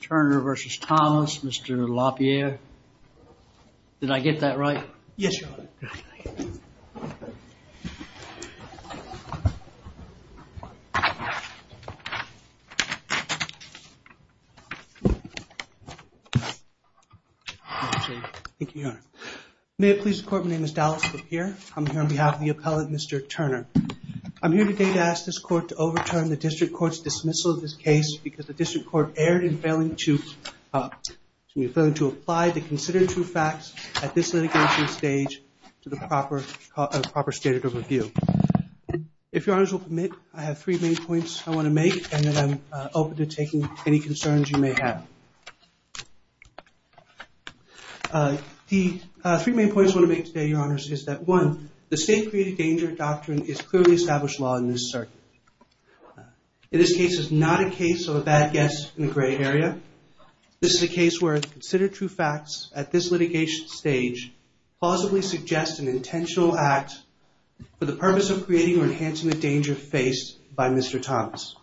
Turner v. Thomas, Mr. LaPierre. Did I get that right? Yes, Your Honor. Thank you, Your Honor. May it please the Court, my name is Dallas LaPierre. I'm here on behalf of the appellant, Mr. Turner. I'm here today to ask this Court to overturn the District Court's dismissal of this case because the District Court erred in failing to apply the considered true facts at this litigation stage to the proper stated of review. If Your Honors will permit, I have three main points I want to make and then I'm open to taking any concerns you may have. The three main points I want to make today, Your Honors, is that one, the state-created danger doctrine is clearly established law in this circuit. In this case, it's not a case of a bad guess in the gray area. This is a case where considered true facts at this litigation stage plausibly suggest an intentional act for the purpose of creating or enhancing the danger faced by Mr. Thomas.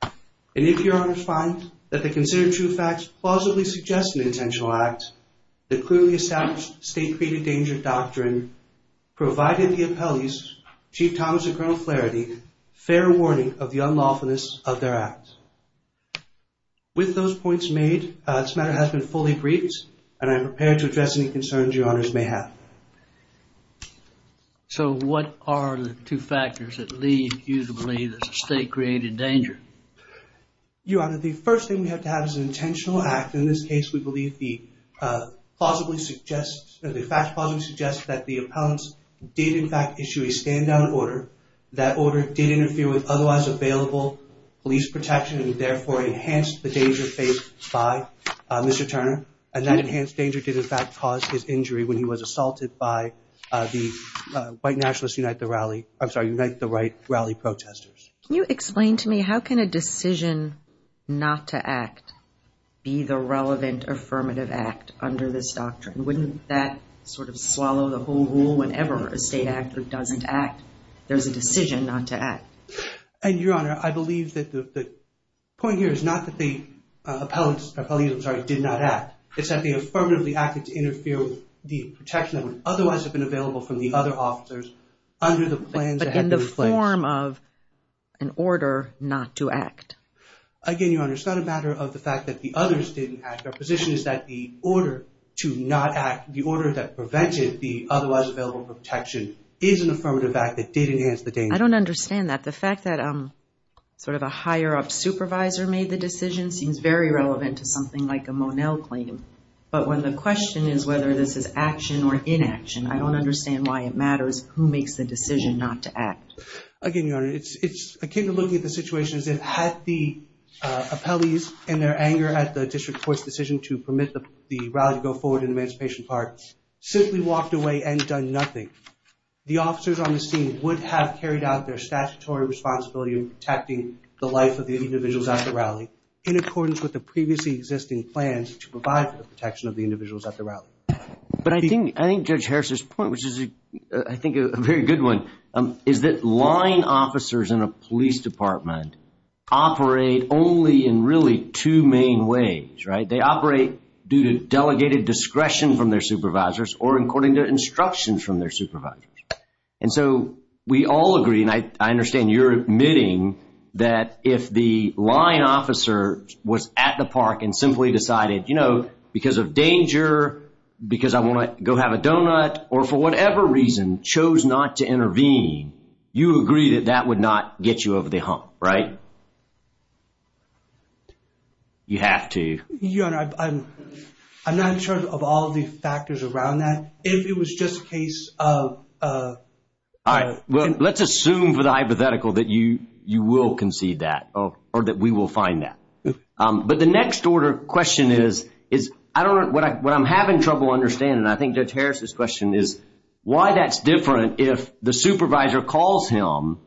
And if Your Honors find that the considered true facts plausibly suggest an intentional act, the clearly established state-created danger doctrine provided the appellees, Chief Thomas and Colonel Flaherty, fair warning of the unlawfulness of their acts. With those points made, this matter has been fully briefed and I'm prepared to address any concerns Your Honors may have. So what are the two factors that lead you to believe that the state-created danger? Your Honor, the first thing we have to have is an intentional act. In this case, we believe the facts plausibly suggest that the appellants did in fact issue a stand-down order. That order did interfere with otherwise available police protection and therefore enhanced the danger faced by Mr. Turner. And that enhanced danger did in fact cause his injury when he was assaulted by the white nationalist Unite the Right rally protesters. Can you explain to me how can a decision not to act be the relevant affirmative act under this doctrine? Wouldn't that sort of swallow the whole rule whenever a state actor doesn't act? There's a decision not to act. And Your Honor, I believe that the point here is not that the appellants, I'm sorry, did not act. It's that they affirmatively acted to interfere with the protection that would otherwise have been available from the other officers under the plans that had been an order not to act. Again, Your Honor, it's not a matter of the fact that the others didn't act. Our position is that the order to not act, the order that prevented the otherwise available protection is an affirmative act that did enhance the danger. I don't understand that. The fact that sort of a higher up supervisor made the decision seems very relevant to something like a Monell claim. But when the question is whether this is action or inaction, I don't understand why it matters who makes the decision not to act. Again, Your Honor, it's akin to looking at the situation as if had the appellees in their anger at the district court's decision to permit the rally to go forward in Emancipation Park simply walked away and done nothing, the officers on the scene would have carried out their statutory responsibility in protecting the life of the individuals at the rally in accordance with the previously existing plans to provide for the protection of the individuals at the rally. But I think, I think a very good one is that line officers in a police department operate only in really two main ways, right? They operate due to delegated discretion from their supervisors or according to instructions from their supervisors. And so we all agree, and I understand you're admitting, that if the line officer was at the park and simply decided, you know, because of danger, because I want to go have a donut, or for whatever reason chose not to intervene, you agree that that would not get you over the hump, right? You have to. Your Honor, I'm not sure of all the factors around that. If it was just a case of... All right, well let's assume for the hypothetical that you you will concede that, or that we will find that. But the next order question is, is, I don't know, what I'm having trouble understanding, and I think Judge Harris's question is, why that's different if the supervisor calls him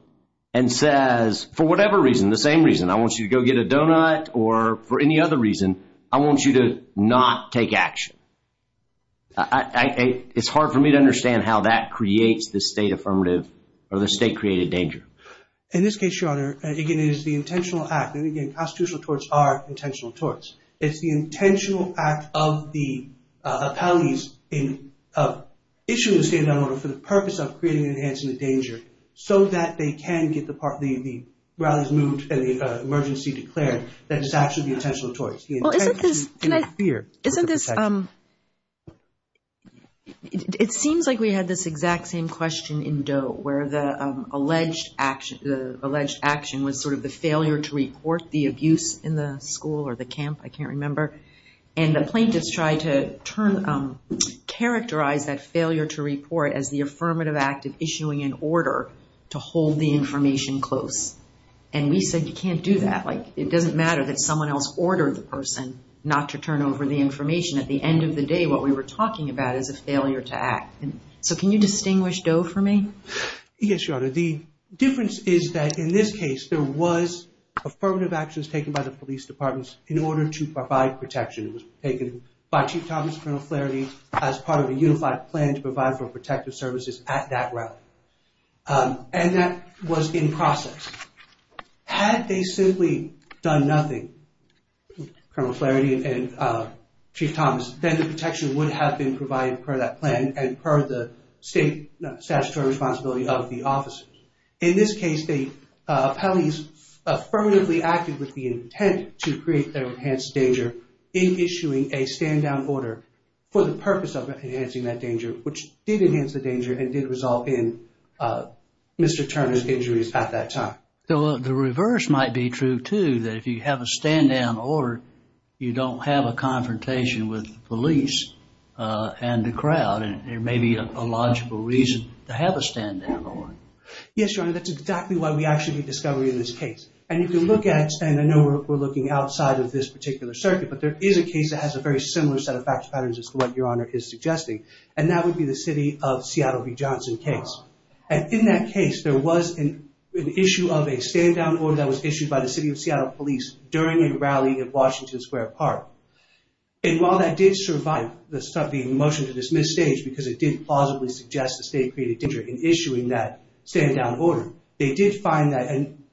and says, for whatever reason, the same reason, I want you to go get a donut, or for any other reason, I want you to not take action. It's hard for me to understand how that creates the state affirmative, or the state-created danger. In this case, Your Honor, again, it is the intentional act. And again, constitutional torts are intentional torts. It's the intentional act of the appellees in issuing the state of the order for the purpose of creating and enhancing the danger, so that they can get the rallies moved and the emergency declared, that is actually the intentional torts. Well, isn't this... It seems like we had this exact same question in Doe, where the alleged action was sort of the failure to report the abuse in the school or the camp, I can't remember, and the plaintiffs tried to characterize that failure to report as the affirmative act of issuing an order to hold the information close. And we said, you can't do that. It doesn't matter that someone else ordered the person not to turn over the information. At the end of the day, what we were talking about is a failure to act. So can you distinguish Doe for me? Yes, Your Honor. The difference is that in this case, there was affirmative actions taken by the police departments in order to provide protection. It was taken by Chief Thomas and Colonel Flaherty as part of a unified plan to provide for protective services at that rally. And that was in process. Had they simply done nothing, Colonel Flaherty and Chief Thomas, then the protection would have been provided per that plan and per the state statutory responsibility of the police department. So they acted with the intent to create their enhanced danger in issuing a stand-down order for the purpose of enhancing that danger, which did enhance the danger and did resolve in Mr. Turner's injuries at that time. The reverse might be true too, that if you have a stand-down order, you don't have a confrontation with police and the crowd. And there may be a logical reason to have a stand-down order. Yes, Your Honor. That's exactly why we actually discovered in this case. And you can look at, and I know we're looking outside of this particular circuit, but there is a case that has a very similar set of fact patterns as to what Your Honor is suggesting. And that would be the city of Seattle v. Johnson case. And in that case, there was an issue of a stand-down order that was issued by the city of Seattle police during a rally at Washington Square Park. And while that did survive the motion to dismiss stage because it did plausibly suggest the state created danger in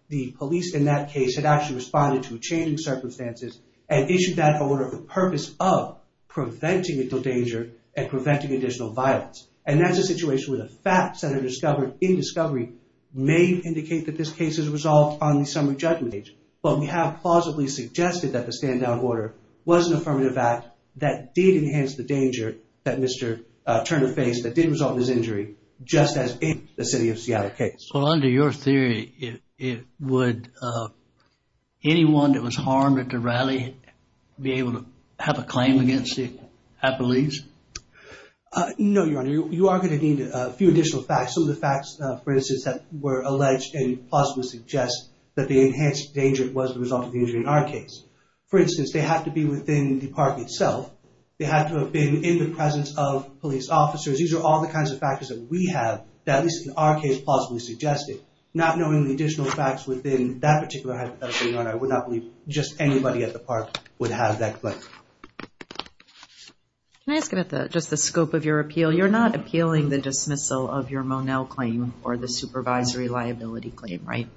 the police in that case had actually responded to a changing circumstances and issued that order for the purpose of preventing the danger and preventing additional violence. And that's a situation where the facts that are discovered in discovery may indicate that this case is resolved on the summary judgment age. But we have plausibly suggested that the stand-down order was an affirmative act that did enhance the danger that Mr. Turner faced that did result in his injury, just as in the city of Seattle case. Well, under your theory, would anyone that was harmed at the rally be able to have a claim against it, I believe? No, Your Honor. You are going to need a few additional facts. Some of the facts, for instance, that were alleged and plausibly suggest that the enhanced danger was the result of the injury in our case. For instance, they have to be within the park itself. They have to have been in the presence of police officers. These are all the kinds of factors that we have that at not knowing the additional facts within that particular hypothetical, Your Honor, I would not believe just anybody at the park would have that claim. Can I ask about that, just the scope of your appeal? You're not appealing the dismissal of your Monell claim or the supervisory liability claim, right?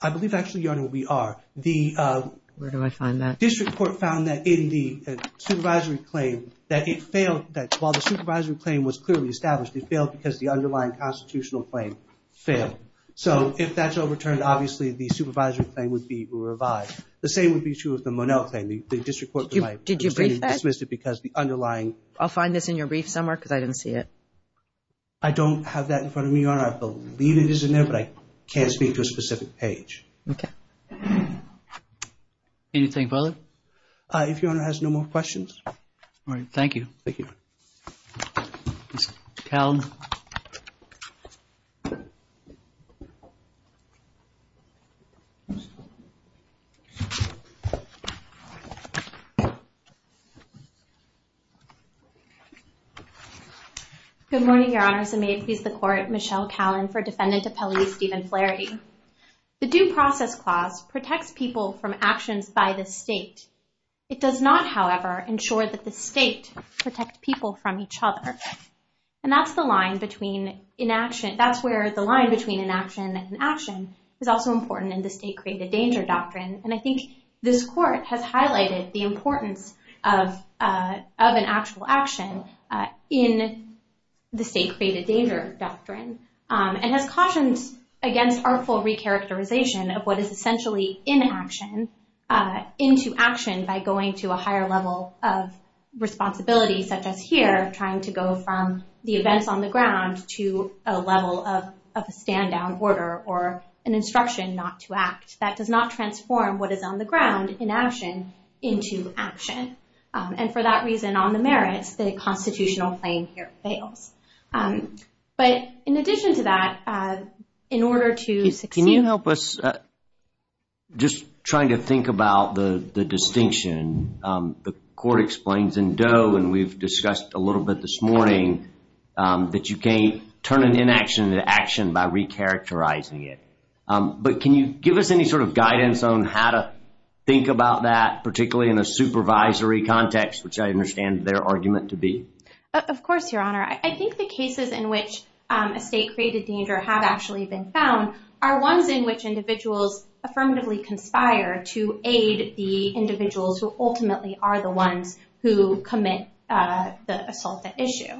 I believe actually, Your Honor, we are. Where do I find that? The district court found that in the supervisory claim that it failed, that while the supervisory claim was clearly established, it failed because the underlying constitutional claim failed. So, if that's overturned, obviously, the supervisory claim would be revised. The same would be true of the Monell claim. The district court dismissed it because the underlying... I'll find this in your brief somewhere because I didn't see it. I don't have that in front of me, Your Honor. I believe it is in there, but I can't speak to a specific page. Okay. Anything further? If Your Honor has no more questions. All right, thank you. Good morning, Your Honors, and may it please the Court, Michelle Callan for Defendant Appellee Stephen Flaherty. The Due Process Clause protects people from each other, and that's the line between inaction... That's where the line between inaction and action is also important in the State Created Danger Doctrine, and I think this Court has highlighted the importance of an actual action in the State Created Danger Doctrine and has cautions against artful recharacterization of what is essentially inaction into action by going to a higher level of responsibility, such as here, trying to go from the events on the ground to a level of a stand-down order or an instruction not to act. That does not transform what is on the ground, inaction, into action. And for that reason, on the merits, the constitutional claim here fails. But in addition to that, in order to succeed... Can you help us just trying to think about the distinction the Court explains in Doe, and we've discussed a little bit this morning, that you can't turn an inaction into action by recharacterizing it. But can you give us any sort of guidance on how to think about that, particularly in a supervisory context, which I understand their argument to be? Of course, Your Honor. I think the cases in which a State Created Danger have actually been found are ones in which individuals affirmatively conspire to aid the individuals who ultimately are the ones who commit the assault at issue.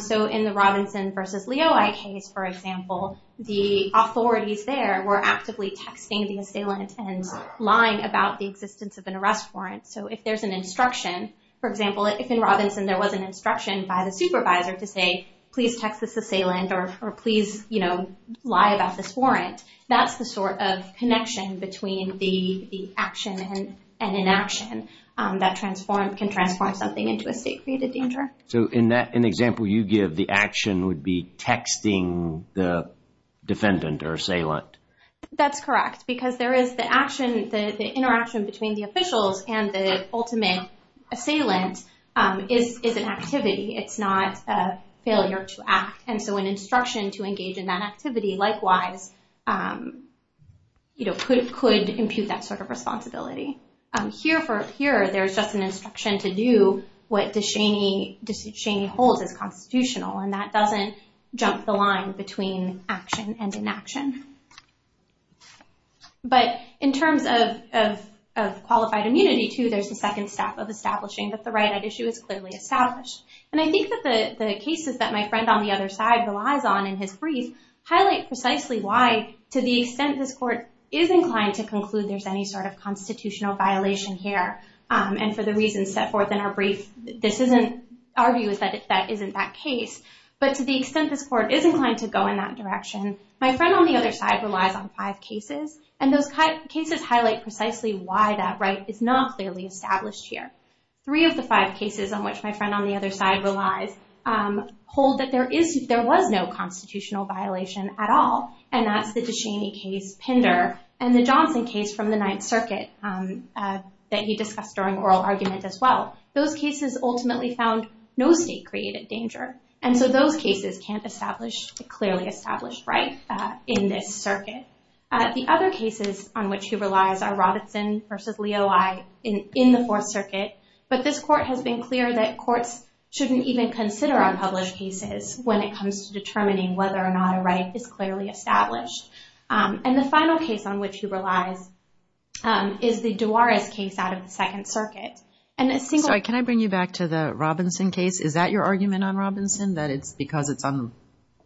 So in the Robinson v. Leoi case, for example, the authorities there were actively texting the assailant and lying about the existence of an arrest warrant. So if there's an instruction... For example, if in Robinson there was an instruction by the supervisor to say, please text this assailant or please lie about this inaction, that can transform something into a State Created Danger. So in that example you give, the action would be texting the defendant or assailant. That's correct, because there is the action, the interaction between the officials and the ultimate assailant is an activity. It's not a failure to act. And so an instruction to engage in that activity, likewise, could impute that sort of responsibility. Here, there's just an instruction to do what DeShaney holds as constitutional, and that doesn't jump the line between action and inaction. But in terms of qualified immunity, too, there's the second step of establishing that the right at issue is clearly established. And I think that the cases that my friend on the other side relies on in his brief highlight precisely why, to the extent this Court is inclined to conclude there's any sort of constitutional violation here, and for the reasons set forth in our brief, this isn't, our view is that that isn't that case. But to the extent this Court is inclined to go in that direction, my friend on the other side relies on five cases, and those cases highlight precisely why that right is not clearly established here. Three of the five cases on which my friend on the other side relies hold that there is, there was no constitutional violation at all, and that's the DeShaney case, Pinder, and the Johnson case from the Ninth Circuit that he discussed during oral argument as well. Those cases ultimately found no state-created danger, and so those cases can't establish a clearly established right in this circuit. The other cases on which he relies are Robinson versus Leo I in the Fourth Circuit, but this Court has been clear that courts shouldn't even consider unpublished cases when it whether or not a right is clearly established. And the final case on which he relies is the Duarez case out of the Second Circuit, and a single... Sorry, can I bring you back to the Robinson case? Is that your argument on Robinson, that it's because it's on,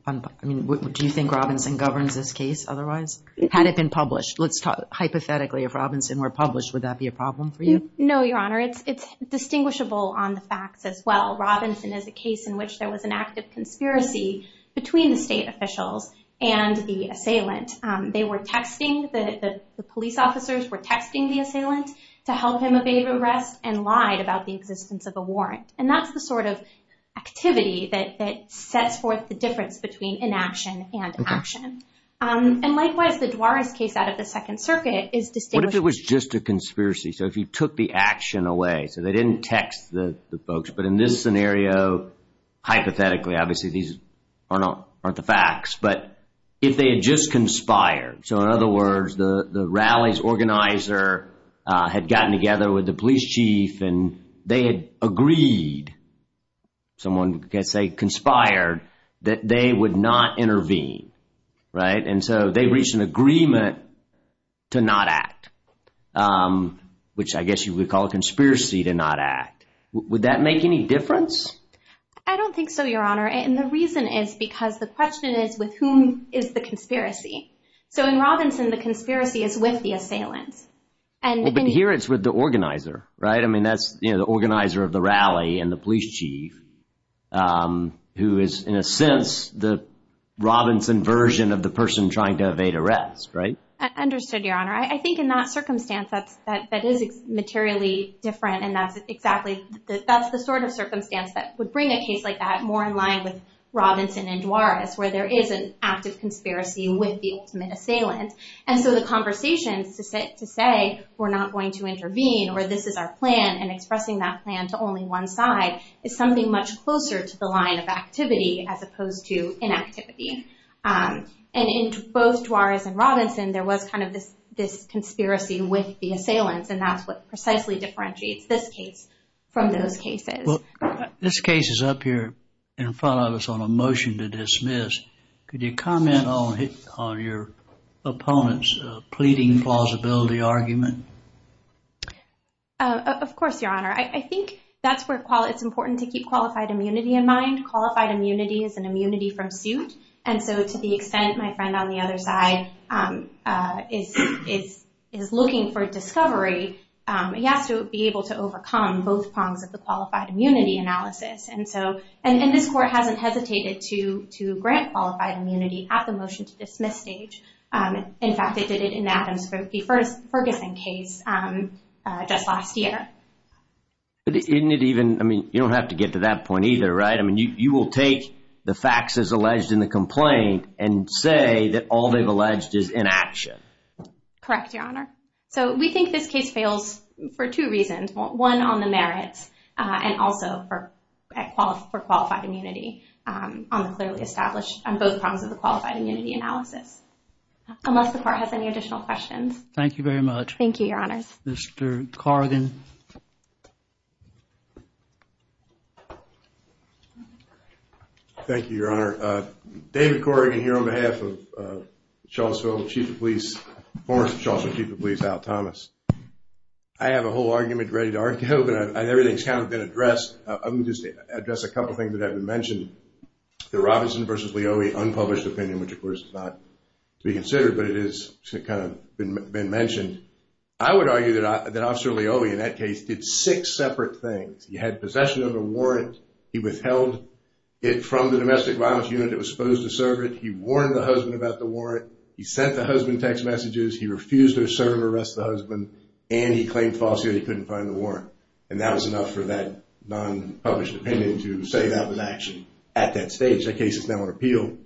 I mean, do you think Robinson governs this case otherwise? Had it been published, let's talk hypothetically, if Robinson were published, would that be a problem for you? No, Your Honor, it's distinguishable on the facts as well. Robinson is a case in which there was an active conspiracy between the state officials and the assailant. They were texting, the police officers were texting the assailant to help him evade arrest and lied about the existence of a warrant, and that's the sort of activity that sets forth the difference between inaction and action. And likewise, the Duarez case out of the Second Circuit is distinguished... What if it was just a conspiracy? So if you took the action away, so they didn't text the folks, but in this scenario, hypothetically, obviously these aren't the facts, but if they had just conspired, so in other words, the rallies organizer had gotten together with the police chief and they had agreed, someone could say conspired, that they would not intervene, right? And so they reached an agreement to not act, which I guess you would call a conspiracy to not act. Would that make any difference? I don't think so, Your Honor, and the reason is because the question is with whom is the conspiracy? So in Robinson, the conspiracy is with the assailant. And here it's with the organizer, right? I mean, that's, you know, the organizer of the rally and the police chief who is, in a sense, the Robinson version of the person trying to evade arrest, right? Understood, Your Honor, but in that circumstance, that is materially different, and that's exactly, that's the sort of circumstance that would bring a case like that more in line with Robinson and Duarez, where there is an active conspiracy with the ultimate assailant. And so the conversations to say, we're not going to intervene, or this is our plan, and expressing that plan to only one side is something much closer to the line of activity as opposed to inactivity. And in both Duarez and Duarez, there is a conspiracy with the assailants, and that's what precisely differentiates this case from those cases. This case is up here in front of us on a motion to dismiss. Could you comment on your opponent's pleading plausibility argument? Of course, Your Honor. I think that's where it's important to keep qualified immunity in mind. Qualified immunity is an immunity from suit, and so to the extent my friend on the other side is looking for discovery, he has to be able to overcome both prongs of the qualified immunity analysis. And this Court hasn't hesitated to grant qualified immunity at the motion to dismiss stage. In fact, it did it in Adam's Ferguson case just last year. But isn't it even, I mean, you don't have to get to that point either, right? I mean, you will take the facts as alleged in the complaint and say that all they've alleged is inaction. Correct, Your Honor. So we think this case fails for two reasons. One, on the merits, and also for qualified immunity on the clearly established, on both prongs of the qualified immunity analysis. Unless the Court has any additional questions. Thank you very much. Thank you, Your Honors. Mr. Corrigan. Thank you, Your Honor. David Corrigan here on behalf of Charlottesville Chief of Police, former Charlottesville Chief of Police Al Thomas. I have a whole argument ready to argue, but everything's kind of been addressed. I'm just going to address a couple things that have been mentioned. The Robinson versus Leoe unpublished opinion, which of course is not to be considered, but it is kind of been mentioned. I would argue that Officer Leoe in that case did six separate things. He had possession of a warrant. He withheld it from the domestic violence unit that was supposed to serve it. He warned the husband about the warrant. He sent the husband text messages. He refused to serve and arrest the husband, and he claimed falsely that he couldn't find the warrant. And that was enough for that non-published opinion to say that was action at that stage. That case is now on appeal,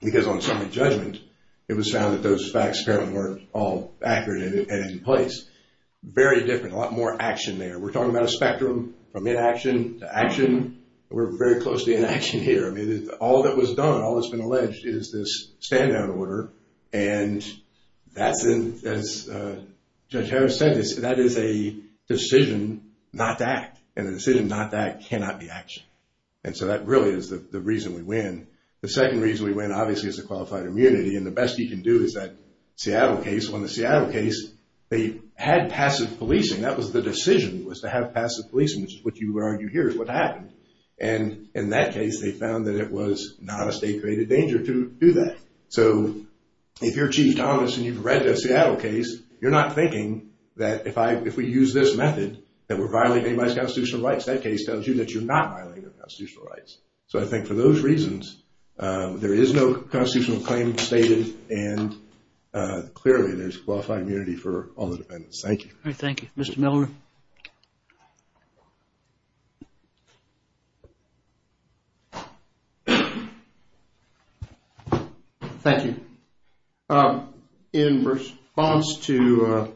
because on summary judgment, it was found that those facts apparently weren't all accurate and in place. Very different. A lot more action there. We're talking about a spectrum from in action to action. We're very closely in action here. I mean, all that was done, all that's been alleged, is this standout order. And that's, as Judge Harris said, that is a decision not to act. And the decision not to act cannot be action. And so that really is the reason we win. The second reason we win obviously is the qualified immunity. And the best you can do is that Seattle case, on the Seattle case, they had passive policing. That was the decision, was to have passive policing, which is what you argue here is what happened. And in that case, they found that it was not a state-created danger to do that. So if you're Chief Thomas and you've read the Seattle case, you're not thinking that if we use this method, that we're violating anybody's constitutional rights. That case tells you that you're not violating their constitutional rights. So I think for those reasons, there is no constitutional claim stated, and clearly there's qualified immunity for all the defendants. Thank you. All right, thank you. Mr. Miller? Thank you. In response to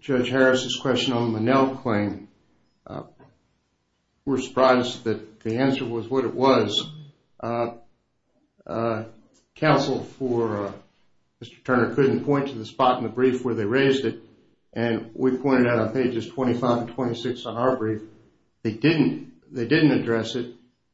Judge Harris's question on the Monell claim, we're not sure what it was. Counsel for Mr. Turner couldn't point to the spot in the brief where they raised it, and we pointed out on pages 25 and 26 on our brief, they didn't address it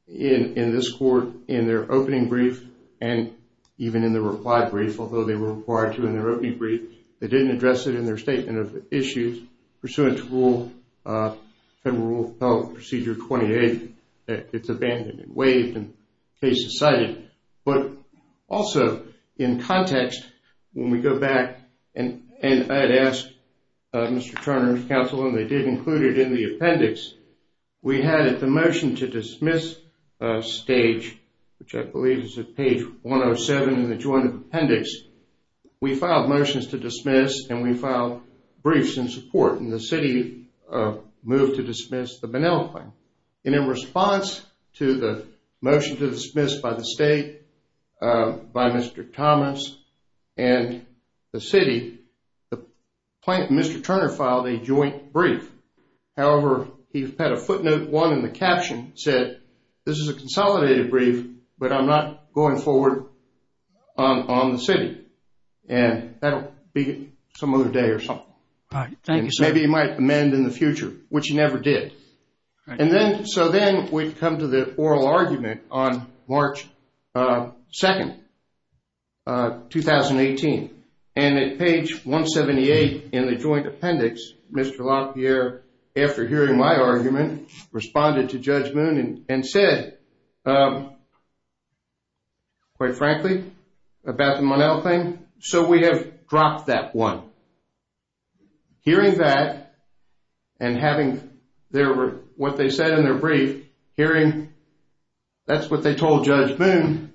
in this court, in their opening brief, and even in the reply brief, although they were required to in their opening brief. They didn't address it in their statement of issues pursuant to Federal Procedure 28. It's abandoned and waived, and the case is cited. But also, in context, when we go back, and I'd ask Mr. Turner's counsel, and they did include it in the appendix, we had at the motion to dismiss stage, which I believe is at page 107 in the joint appendix, we filed motions to dismiss and we filed briefs in support, and the city moved to dismiss the Monell claim. And in response to the motion to dismiss by the state, by Mr. Thomas, and the city, Mr. Turner filed a joint brief. However, he had a footnote, one in the caption, said, this is a consolidated brief, but I'm not going to go forward on the city, and that'll be some other day or something. All right, thank you, sir. Maybe he might amend in the future, which he never did. And then, so then, we come to the oral argument on March 2nd, 2018, and at page 178 in the joint appendix, Mr. LaPierre, after hearing my argument, responded to Judge Moon and said, quite frankly, about the Monell thing, so we have dropped that one. Hearing that and having what they said in their brief, hearing that's what they told Judge Moon,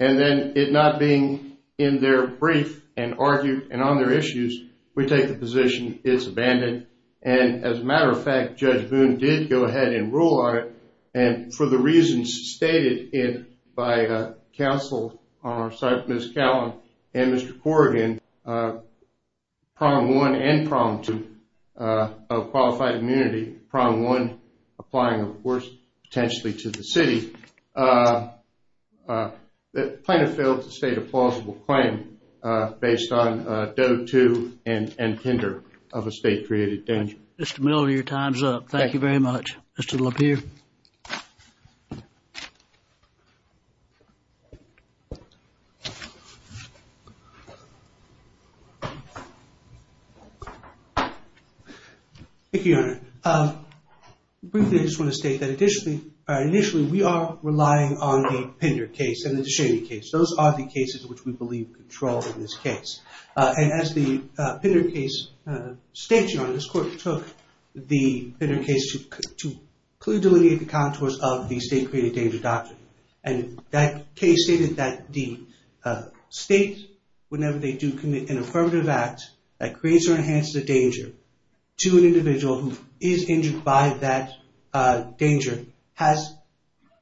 and then it not being in their brief and argued and on their issues, we take the position it's abandoned. And as a matter of fact, Judge Moon did go ahead and rule on it, and for the reasons stated by counsel on our side, Ms. Callan and Mr. Corrigan, prong one and prong two of qualified immunity, prong one applying, of course, potentially to the city, the plaintiff failed to state a plausible claim based on Doe 2 and Pender of a state-created danger. Mr. Miller, your time's up. Thank you very much. Mr. LaPierre. Thank you, Your Honor. Briefly, I just want to state that initially, initially, we are relying on the Pender case and the DeShaney case. Those are the cases which we believe control in this case. And as the Pender case states, Your Honor, this court took the Pender case to clearly delineate the contours of the state-created danger doctrine. And that case stated that the state, whenever they do commit an affirmative act that creates or enhances a danger to an individual who is injured by that danger, has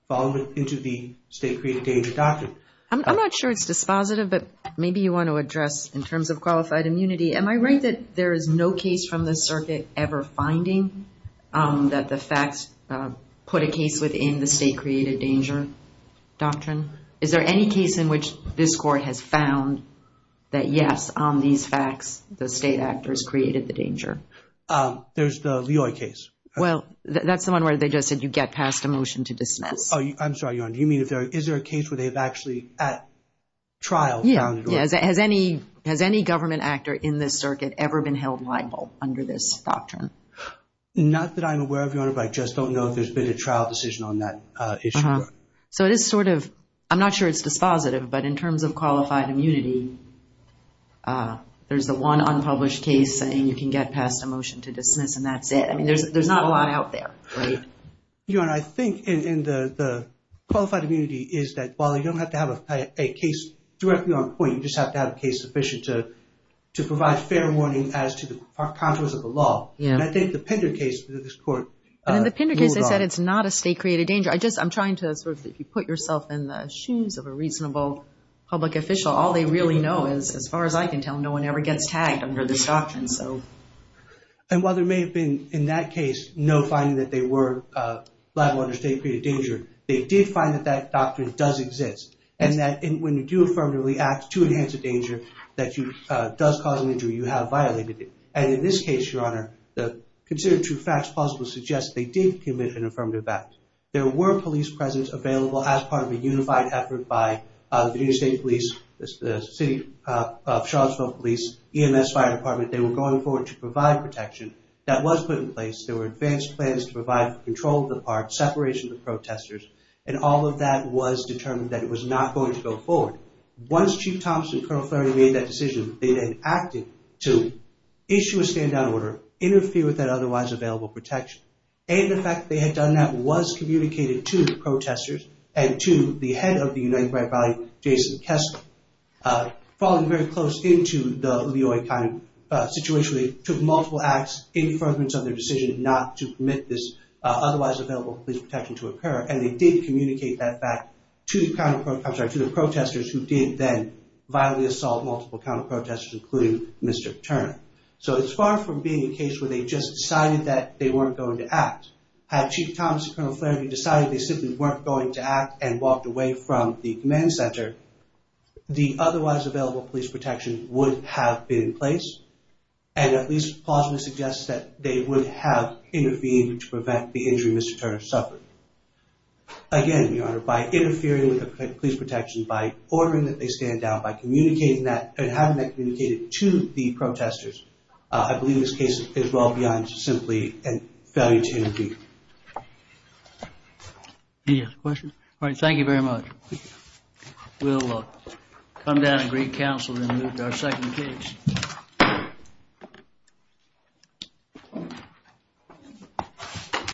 fallen into the state-created danger doctrine. I'm not sure it's dispositive, but maybe you want to address in terms of qualified immunity. Am I right that there is no case from the circuit ever finding that the facts put a case within the state-created danger doctrine? Is there any case in which this court has found that, yes, on these facts, the state actors created the danger? There's the Leoy case. Well, that's the one where they just said you get passed a motion to dismiss. Oh, I'm sorry, Your Honor. Do you mean, is there a case where they've actually at trial found it? Yes. Has any, has any government actor in this circuit ever been held liable under this doctrine? Not that I'm aware of, Your Honor, but I just don't know if there's been a trial decision on that issue. So it is sort of, I'm not sure it's dispositive, but in terms of qualified immunity, there's the one unpublished case saying you can get passed a motion to dismiss and that's it. I mean, there's not a lot out there. Your Honor, I think in the qualified immunity is that while you don't have to have a case directly on point, you just have to have a case sufficient to, to provide fair warning as to the contours of the law. And I think the Pender case that this court ruled on. And in the Pender case, they said it's not a state created danger. I just, I'm trying to sort of, if you put yourself in the shoes of a reasonable public official, all they really know is, as far as I can tell, no one ever gets tagged under this doctrine, so. And while there may have been in that case, no finding that they were liable under state created danger, they did find that that doctrine does exist. And that when you do affirmatively act to enhance a danger that you, does cause an injury, you have violated it. And in this case, Your Honor, the considered true facts possibly suggest they did commit an affirmative act. There were police presence available as part of a unified effort by the New York State Police, the City of Charlottesville Police, EMS Fire Department. They were going forward to provide protection. That was put in place. There were advanced plans to provide control of the park, separation of the park, and that was not going to go forward. Once Chief Thomas and Colonel Flurry made that decision, they then acted to issue a stand down order, interfere with that otherwise available protection. And the fact that they had done that was communicated to the protesters and to the head of the United Bright Valley, Jason Kessler. Falling very close into the Leoy kind of situation, they took multiple acts in deference of their decision not to permit this otherwise available police protection to occur. And they did communicate that back to the counter, I'm sorry, to the protesters who did then violently assault multiple counter protesters, including Mr. Turner. So it's far from being a case where they just decided that they weren't going to act. Had Chief Thomas and Colonel Flurry decided they simply weren't going to act and walked away from the command center, the otherwise available police protection would have been in place. And at least, plausibly suggests that they would have intervened to prevent the injury Mr. Turner suffered. Again, Your Honor, by interfering with the police protection, by ordering that they stand down, by communicating that and having that communicated to the protesters, I believe this case is well beyond simply a failure to intervene. Any other questions? All right. Thank you very much. We'll come down and greet counsel and move to our second case.